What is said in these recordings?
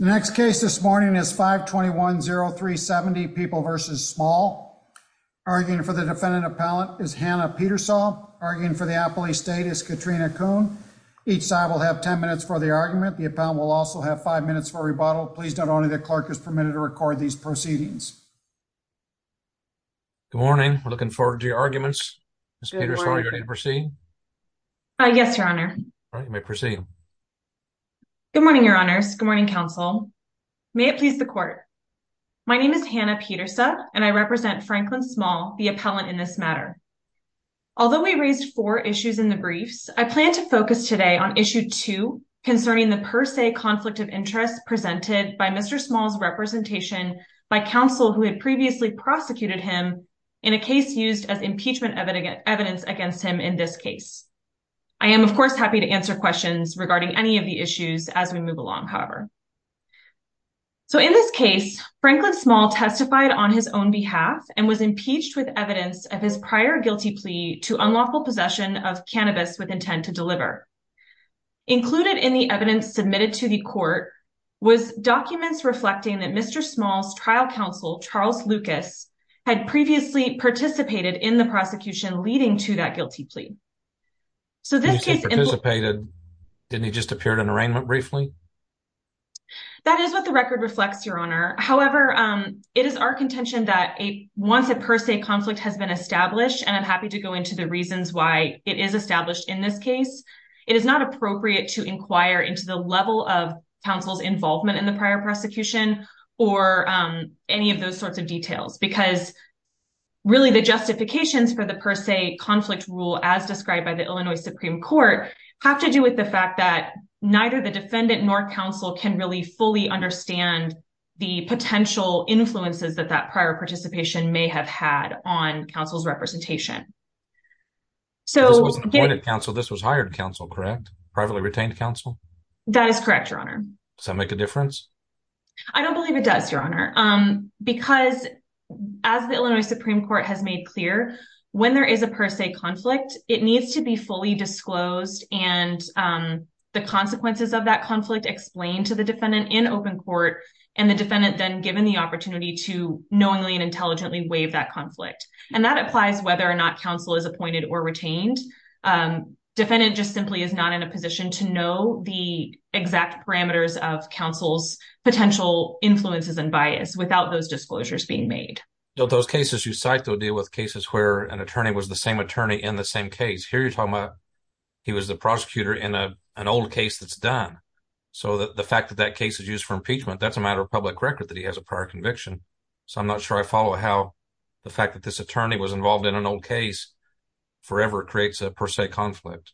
The next case this morning is 521-0370, People v. Small. Arguing for the defendant appellant is Hannah Petersaw. Arguing for the appellee state is Katrina Kuhn. Each side will have 10 minutes for the argument. The appellant will also have 5 minutes for rebuttal. Please note only that the clerk is permitted to record these proceedings. Good morning, we're looking forward to your arguments. Ms. Petersaw, are you ready to proceed? Yes, Your Honor. All right, you may proceed. Good morning, Your Honors. Good morning, counsel. May it please the court. My name is Hannah Petersaw, and I represent Franklin Small, the appellant in this matter. Although we raised four issues in the briefs, I plan to focus today on issue two concerning the per se conflict of interest presented by Mr. Small's representation by counsel who had previously prosecuted him in a case used as impeachment evidence against him in this case. I am, of course, happy to answer questions regarding any of the issues as we move along, however. So, in this case, Franklin Small testified on his own behalf and was impeached with evidence of his prior guilty plea to unlawful possession of cannabis with intent to deliver. Included in the evidence submitted to the court was documents reflecting that Mr. Small's trial counsel, Charles Lucas, had previously participated in the prosecution leading to that guilty plea. So this case... Participated? Didn't he just appear at an arraignment briefly? That is what the record reflects, Your Honor. However, it is our contention that once a per se conflict has been established, and I'm happy to go into the reasons why it is established in this case, it is not appropriate to inquire into the level of counsel's involvement in the prior prosecution or any of those sorts of details, because really the justifications for the per se conflict rule as described by the Illinois Supreme Court have to do with the fact that neither the defendant nor counsel can really fully understand the potential influences that that prior participation may have had on counsel's representation. So this wasn't appointed counsel, this was hired counsel, correct? Privately retained counsel? That is correct, Your Honor. Does that make a difference? I don't believe it does, Your Honor. Because as the Illinois Supreme Court has made clear, when there is a per se conflict, it needs to be fully disclosed and the consequences of that conflict explained to the defendant in open court, and the defendant then given the opportunity to knowingly and intelligently waive that conflict. And that applies whether or not counsel is appointed or retained. Defendant just simply is not in a position to know the exact parameters of counsel's status without those disclosures being made. Those cases you cite, though, deal with cases where an attorney was the same attorney in the same case. Here you're talking about he was the prosecutor in an old case that's done. So the fact that that case is used for impeachment, that's a matter of public record that he has a prior conviction. So I'm not sure I follow how the fact that this attorney was involved in an old case forever creates a per se conflict.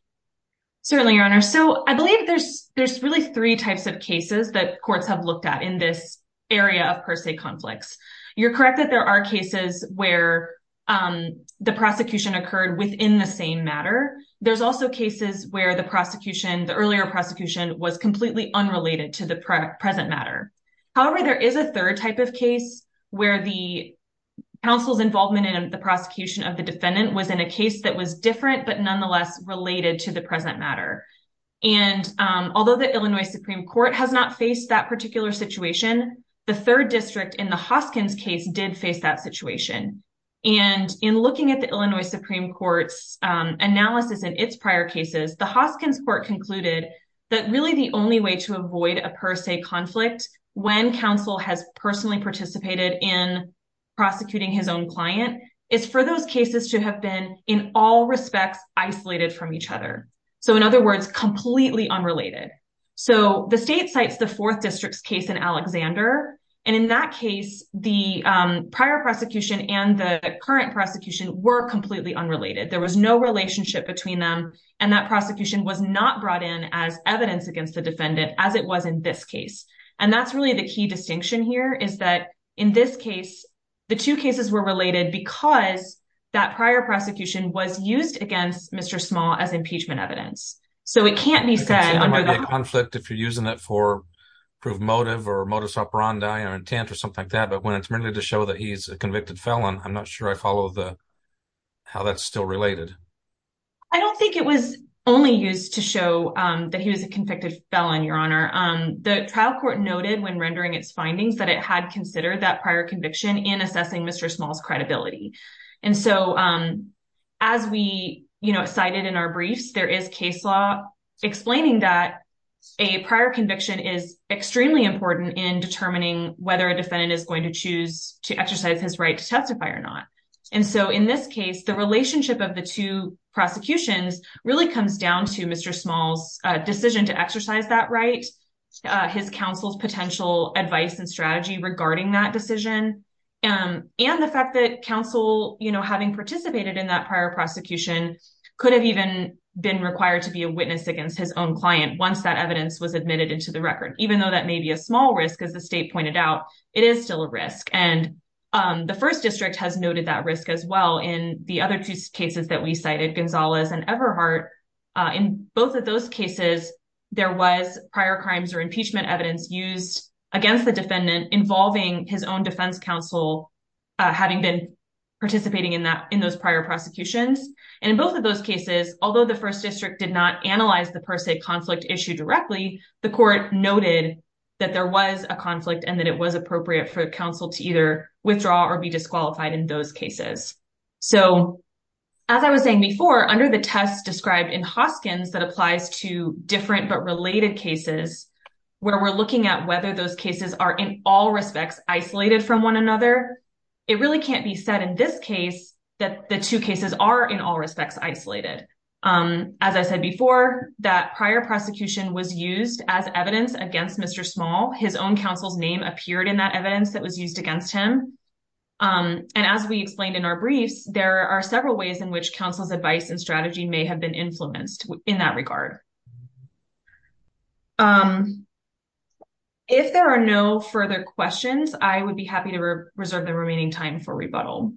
Certainly, Your Honor. So I believe there's really three types of cases that courts have looked at in this area of per se conflicts. You're correct that there are cases where the prosecution occurred within the same matter. There's also cases where the prosecution, the earlier prosecution, was completely unrelated to the present matter. However, there is a third type of case where the counsel's involvement in the prosecution of the defendant was in a case that was different, but nonetheless related to the present matter. And although the Illinois Supreme Court has not faced that particular situation, the third district in the Hoskins case did face that situation. And in looking at the Illinois Supreme Court's analysis in its prior cases, the Hoskins court concluded that really the only way to avoid a per se conflict when counsel has personally participated in prosecuting his own client is for those cases to have been in all respects isolated from each other. So in other words, completely unrelated. So the state cites the fourth district's case in Alexander, and in that case, the prior prosecution and the current prosecution were completely unrelated. There was no relationship between them, and that prosecution was not brought in as evidence against the defendant as it was in this case. And that's really the key distinction here is that in this case, the two cases were related because that prior prosecution was used against Mr. Small as impeachment evidence. So it can't be said under the conflict if you're using it for proof motive or modus operandi or intent or something like that. But when it's really to show that he's a convicted felon, I'm not sure I follow the how that's still related. I don't think it was only used to show that he was a convicted felon, Your Honor. The trial court noted when rendering its findings that it had considered that prior conviction in assessing Mr. Small's credibility. And so as we cited in our briefs, there is case law explaining that a prior conviction is extremely important in determining whether a defendant is going to choose to exercise his right to testify or not. And so in this case, the relationship of the two prosecutions really comes down to Mr. Small's decision to exercise that right, his counsel's potential advice and strategy regarding that decision and the fact that counsel having participated in that prior prosecution could have even been required to be a witness against his own client once that evidence was admitted into the record, even though that may be a small risk, as the state pointed out, it is still a risk. And the first district has noted that risk as well. In the other two cases that we cited, Gonzalez and Everhart, in both of those cases, there defense counsel having been participating in that in those prior prosecutions. And in both of those cases, although the first district did not analyze the per se conflict issue directly, the court noted that there was a conflict and that it was appropriate for counsel to either withdraw or be disqualified in those cases. So as I was saying before, under the test described in Hoskins that applies to different but related cases where we're looking at whether those cases are in all respects isolated from one another. It really can't be said in this case that the two cases are in all respects isolated. As I said before, that prior prosecution was used as evidence against Mr. Small. His own counsel's name appeared in that evidence that was used against him. And as we explained in our briefs, there are several ways in which counsel's advice and strategy may have been influenced in that regard. Um, if there are no further questions, I would be happy to reserve the remaining time for rebuttal.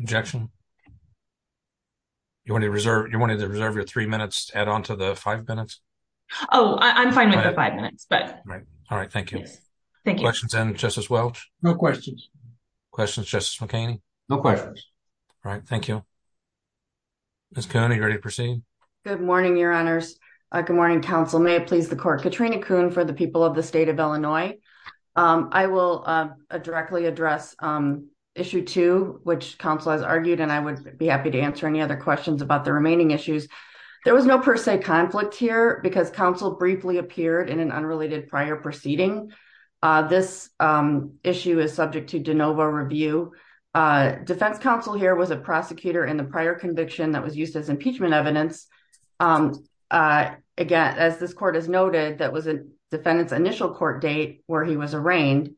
Objection. You want to reserve you wanted to reserve your three minutes to add on to the five minutes. Oh, I'm fine with the five minutes. But all right. Thank you. Thank you. Questions and Justice Welch. No questions. Questions, Justice McKinney. No questions. All right. Thank you. Miss Cooney, ready to proceed. Good morning, your honors. Good morning, counsel. May it please the court. Katrina Coon for the people of the state of Illinois. I will directly address issue two, which counsel has argued, and I would be happy to answer any other questions about the remaining issues. There was no per se conflict here because counsel briefly appeared in an unrelated prior proceeding. This issue is subject to de novo review. Defense counsel here was a prosecutor in the prior conviction that was used as impeachment evidence. I again, as this court has noted, that was a defendant's initial court date where he was arraigned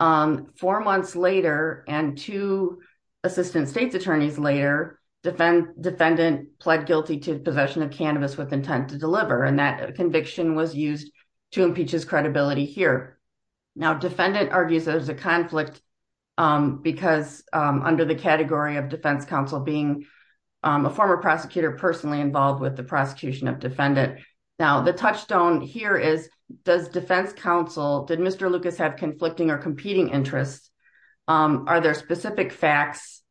four months later and two assistant state's attorneys later defend defendant pled guilty to possession of cannabis with intent to deliver. And that conviction was used to impeach his credibility here. Now, defendant argues there's a conflict because under the category of defense counsel, being a former prosecutor personally involved with the prosecution of defendant. Now, the touchstone here is does defense counsel, did Mr. Lucas have conflicting or competing interests? Are there specific facts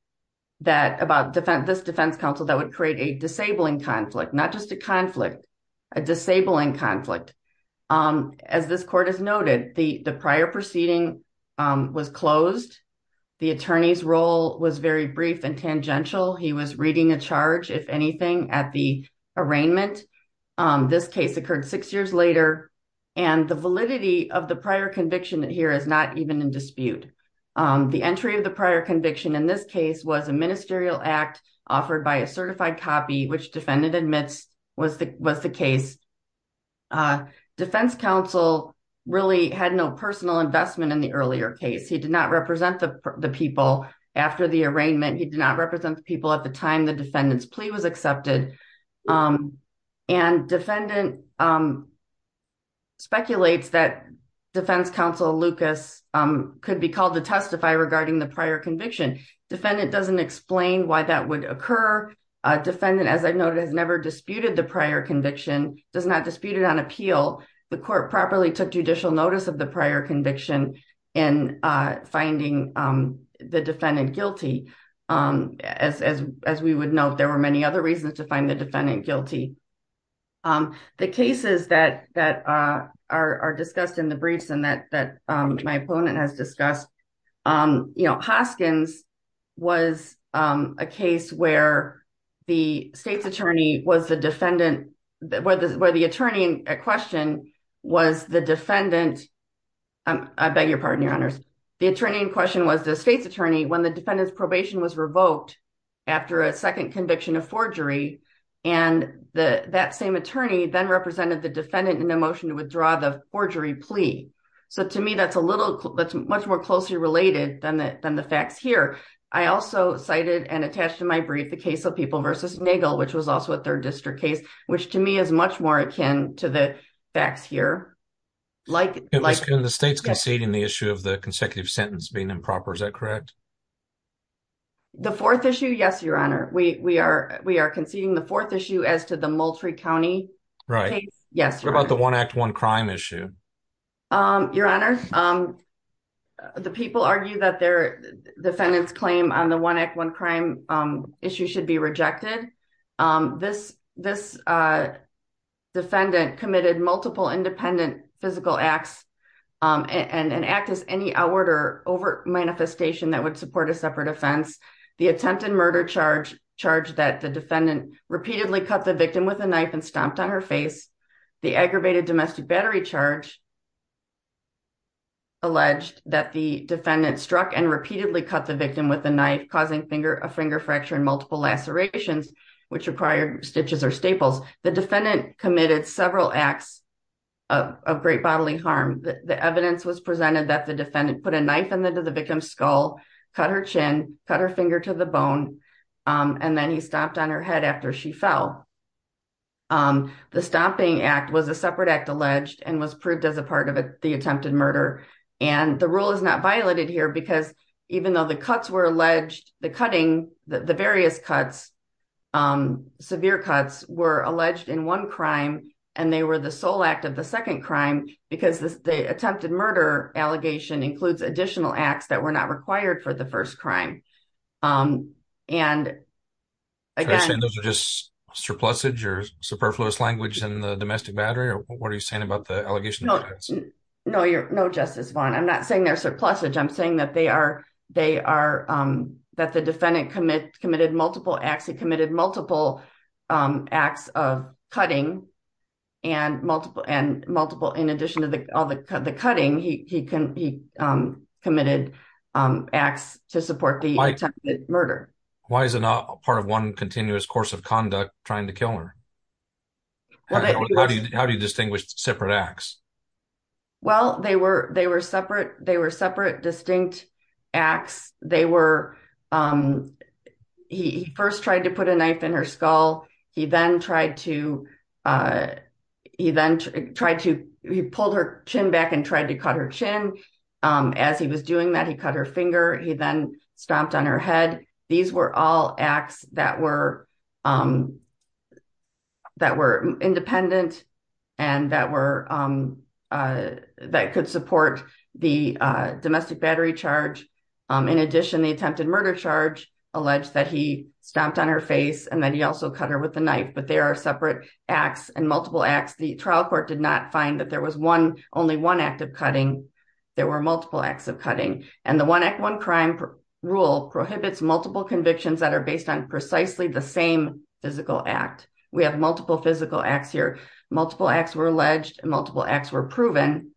that about defense, this defense counsel that would create a disabling conflict, not just a conflict, a disabling conflict? As this court has noted, the prior proceeding was closed. The attorney's role was very brief and tangential. He was reading a charge, if anything, at the arraignment. This case occurred six years later and the validity of the prior conviction here is not even in dispute. The entry of the prior conviction in this case was a ministerial act offered by a certified copy, which defendant admits was the case. Defense counsel really had no personal investment in the earlier case. He did not represent the people after the arraignment. He did not represent the people at the time the defendant's plea was accepted. And defendant speculates that defense counsel Lucas could be called to testify regarding the prior conviction. Defendant doesn't explain why that would occur. Defendant, as I've noted, has never disputed the prior conviction, does not dispute it on appeal. The court properly took judicial notice of the prior conviction in finding the defendant guilty. As we would note, there were many other reasons to find the defendant guilty. The cases that are discussed in the briefs and that my opponent has discussed, Hoskins was a case where the state's attorney was the defendant, where the attorney in question was the defendant. I beg your pardon, your honors. The attorney in question was the state's attorney when the defendant's probation was revoked after a second conviction of forgery and that same attorney then represented the defendant in a motion to withdraw the forgery plea. So to me, that's much more closely related than the facts here. I also cited and attached to my brief the case of People v. Nagel, which was also a third district case, which to me is much more akin to the facts here. The state's conceding the issue of the consecutive sentence being improper, is that correct? The fourth issue, yes, your honor. We are conceding the fourth issue as to the Moultrie County case. What about the one act, one crime issue? Your honor, the people argue that their defendant's claim on the one act, one crime issue should be rejected. This defendant committed multiple independent physical acts and an act as any outward or overt manifestation that would support a separate offense. The attempted murder charge that the defendant repeatedly cut the victim with a knife and stomped on her face. The aggravated domestic battery charge alleged that the defendant struck and repeatedly cut the victim with a knife, causing a finger fracture and multiple lacerations, which required stitches or staples. The defendant committed several acts of great bodily harm. The evidence was presented that the defendant put a knife into the victim's skull, cut her chin, cut her finger to the bone, and then he stomped on her head after she fell. The stomping act was a separate act alleged and was proved as a part of the attempted murder. And the rule is not violated here because even though the cuts were alleged, the cutting, the various cuts, severe cuts were alleged in one crime, and they were the sole act of the second crime because the attempted murder allegation includes additional acts that were not required for the first crime. Um, and again, those are just surpluses or superfluous language in the domestic battery, or what are you saying about the allegation? No, you're no justice bond. I'm not saying they're surpluses. I'm saying that they are, they are, um, that the defendant commit committed multiple acts. He committed multiple, um, acts of cutting and multiple and multiple. In addition to the, all the, the cutting, he, he can, he, um, committed, um, acts to support the attempted murder. Why is it not part of one continuous course of conduct trying to kill her? How do you distinguish separate acts? Well, they were, they were separate. They were separate, distinct acts. They were, um, he first tried to put a knife in her skull. He then tried to, uh, he then tried to, he pulled her chin back and tried to cut her chin. Um, as he was doing that, he cut her finger. He then stomped on her head. These were all acts that were, um, that were independent and that were, um, uh, that could support the, uh, domestic battery charge. Um, in addition, the attempted murder charge alleged that he stomped on her face and then he also cut her with the knife, but there are separate acts and multiple acts. The trial court did not find that there was one, only one act of cutting. There were multiple acts of cutting and the one act, one crime rule prohibits multiple convictions that are based on precisely the same physical act. We have multiple physical acts here. Multiple acts were alleged and multiple acts were proven.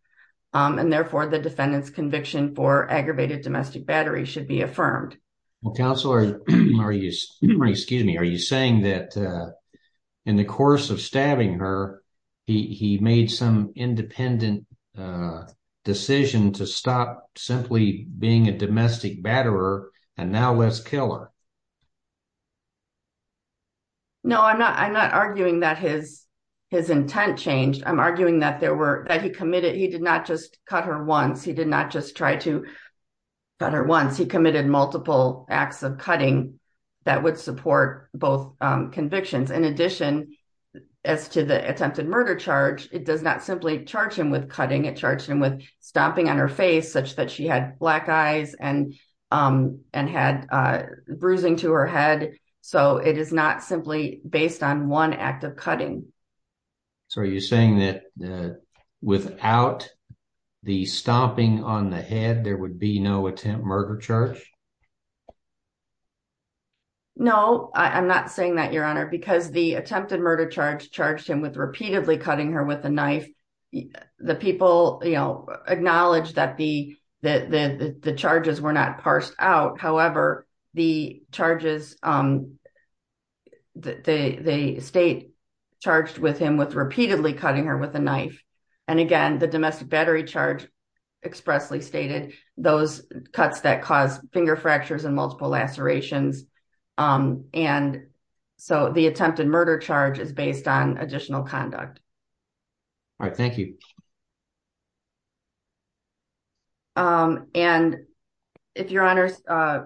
Um, and therefore the defendant's conviction for aggravated domestic battery should be affirmed. Well, counselor, are you, excuse me, are you saying that, uh, in the course of stabbing her, he, he made some independent, uh, decision to stop simply being a domestic batterer and now let's kill her. No, I'm not, I'm not arguing that his, his intent changed. I'm arguing that there were, that he committed, he did not just cut her once. He did not just try to cut her once. He committed multiple acts of cutting that would support both convictions. In addition, as to the attempted murder charge, it does not simply charge him with cutting. It charged him with stomping on her face such that she had black eyes and, um, and had, uh, bruising to her head. So it is not simply based on one act of cutting. So are you saying that, uh, without the stomping on the head, there would be no attempt murder charge? No, I'm not saying that your honor, because the attempted murder charge charged him with repeatedly cutting her with a knife. The people, you know, acknowledge that the, the, the, the charges were not parsed out. However, the charges, um, the, the state charged with him with repeatedly cutting her with a knife. And again, the domestic battery charge expressly stated those cuts that cause finger fractures and multiple lacerations. Um, and so the attempted murder charge is based on additional conduct. All right, thank you. Um, and if your honors, uh,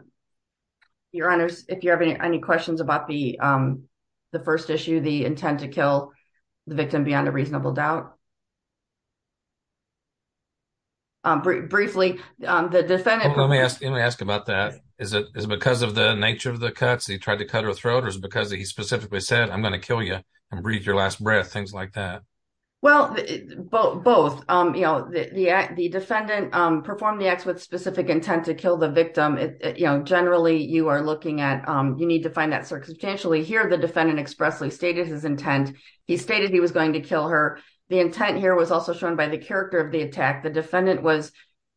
your honors, if you have any, any questions about the, um, the first issue, the intent to kill the victim beyond a reasonable doubt. Um, briefly, um, the defendant, let me ask, let me ask about that. Is it, is it because of the nature of the cuts that he tried to cut her throat? Or is it because he specifically said, I'm going to kill you and breathe your last breath, things like that? Well, both, um, you know, the, the, the defendant, um, performed the acts with specific intent to kill the victim. It, you know, generally you are looking at, um, you need to find that circumstantially here. The defendant expressly stated his intent. He stated he was going to kill her. The intent here was also shown by the character of the attack. The defendant was,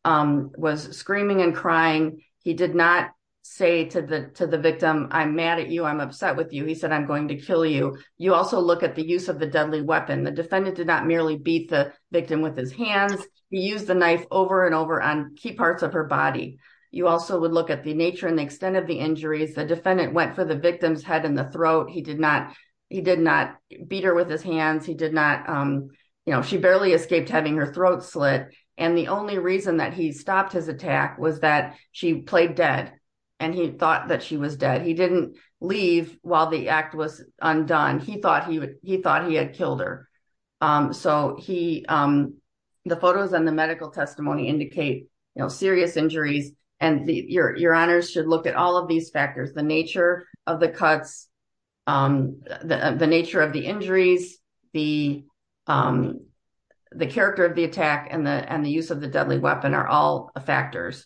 um, was screaming and crying. He did not say to the, to the victim, I'm mad at you. I'm upset with you. He said, I'm going to kill you. You also look at the use of the deadly weapon. The defendant did not merely beat the victim with his hands. He used the knife over and over on key parts of her body. You also would look at the nature and the extent of the injuries. The defendant went for the victim's head and the throat. He did not, he did not beat her with his hands. He did not, um, you know, she barely escaped having her throat slit. And the only reason that he stopped his attack was that she played dead and he thought that she was dead. He didn't leave while the act was undone. He thought he would, he thought he had killed her. Um, so he, um, the photos and the medical testimony indicate, you know, serious injuries and the, your, your honors should look at all of these factors, the nature of the cuts, um, the, the nature of the injuries, the, um, the character of the attack and the, and the use of the deadly weapon are all factors.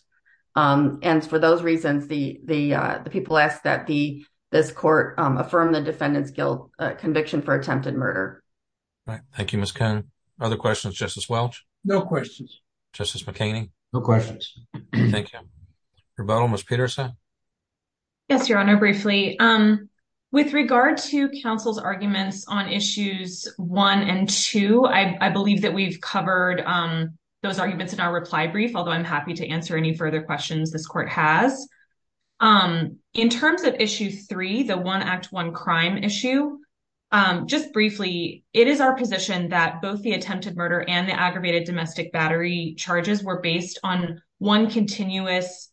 Um, and for those reasons, the, the, uh, the people ask that the, this court, um, affirm the defendant's guilt, uh, conviction for attempted murder. Right. Thank you, Ms. Cohn. Other questions, Justice Welch? No questions. Justice McKinney? No questions. Thank you. Rebuttal, Ms. Peterson. Yes, your honor. Um, with regard to counsel's arguments on issues one and two, I, I believe that we've covered, um, those arguments in our reply brief, although I'm happy to answer any further questions this court has. Um, in terms of issue three, the one act, one crime issue, um, just briefly, it is our position that both the attempted murder and the aggravated domestic battery charges were one continuous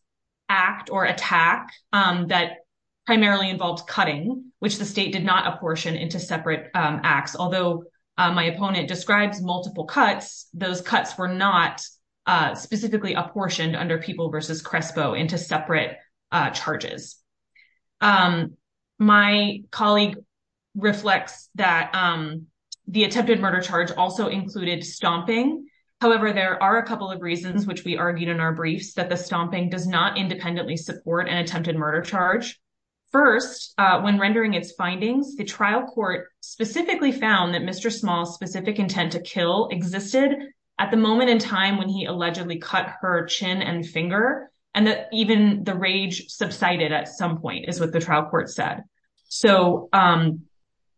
act or attack, um, that primarily involved cutting, which the state did not apportion into separate, um, acts. Although, uh, my opponent describes multiple cuts, those cuts were not, uh, specifically apportioned under People v. Crespo into separate, uh, charges. Um, my colleague reflects that, um, the attempted murder charge also included stomping. However, there are a couple of reasons which we argued in our briefs that the stomping does not independently support an attempted murder charge. First, uh, when rendering its findings, the trial court specifically found that Mr. Small's specific intent to kill existed at the moment in time when he allegedly cut her chin and finger, and that even the rage subsided at some point is what the trial court said. So, um,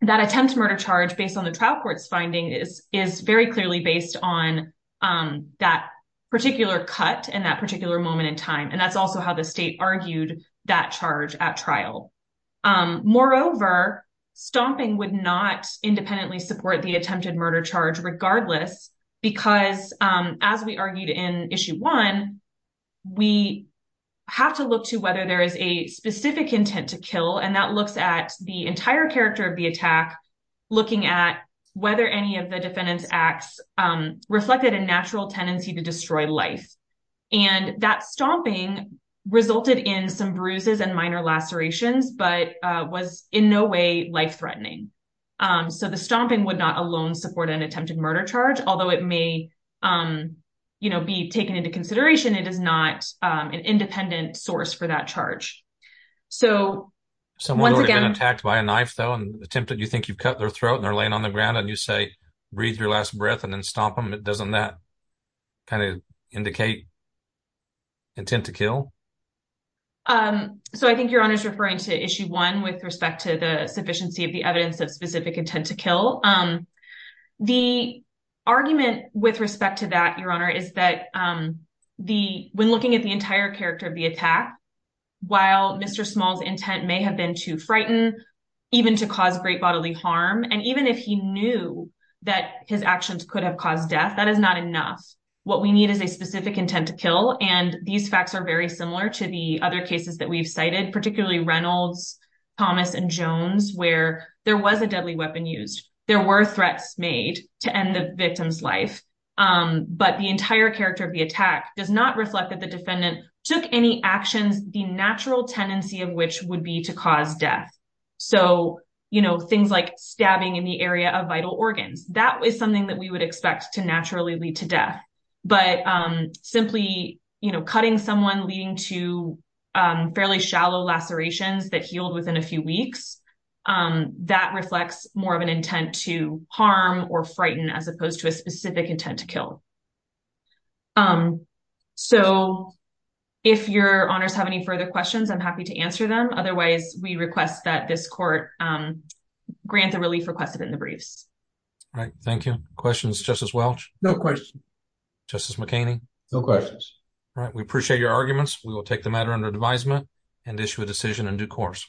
that attempt murder charge based on the trial court's finding is, is very clearly based on, um, that particular cut and that particular moment in time, and that's also how the state argued that charge at trial. Um, moreover, stomping would not independently support the attempted murder charge regardless because, um, as we argued in Issue 1, we have to look to whether there is a specific intent to kill, and that looks at the entire character of the attack, looking at whether any of the defendant's acts, um, reflected a natural tendency to destroy life. And that stomping resulted in some bruises and minor lacerations, but, uh, was in no way life-threatening. Um, so the stomping would not alone support an attempted murder charge, although it may, um, you know, be taken into consideration, it is not, um, an independent source for that charge. So, once again- Someone would have been attacked by a knife, though, and attempted, you think you've cut their throat and they're laying on the ground and you say, breathe your last breath and then stomp them, doesn't that kind of indicate intent to kill? Um, so I think Your Honor's referring to Issue 1 with respect to the sufficiency of the evidence of specific intent to kill. Um, the argument with respect to that, Your Honor, is that, um, the- when looking at the entire character of the attack, while Mr. Small's intent may have been to frighten, even to cause great bodily harm, and even if he knew that his actions could have caused death, that is not enough. What we need is a specific intent to kill, and these facts are very similar to the other cases that we've cited, particularly Reynolds, Thomas, and Jones, where there was a deadly weapon used. There were threats made to end the victim's life, um, but the entire character of the attack does not reflect that the defendant took any actions, the natural tendency of which would be to cause death. So, you know, things like stabbing in the area of vital organs, that was something that we would expect to naturally lead to death, but, um, simply, you know, cutting someone leading to, um, fairly shallow lacerations that healed within a few weeks, um, that reflects more of an intent to harm or frighten as opposed to a specific intent to kill. Um, so if Your Honors have any further questions, I'm happy to answer them. Otherwise, we request that this court, um, grant the relief requested in the briefs. All right. Thank you. Questions, Justice Welch? No questions. Justice McHaney? No questions. All right. We appreciate your arguments. We will take the matter under advisement and issue a decision in due course.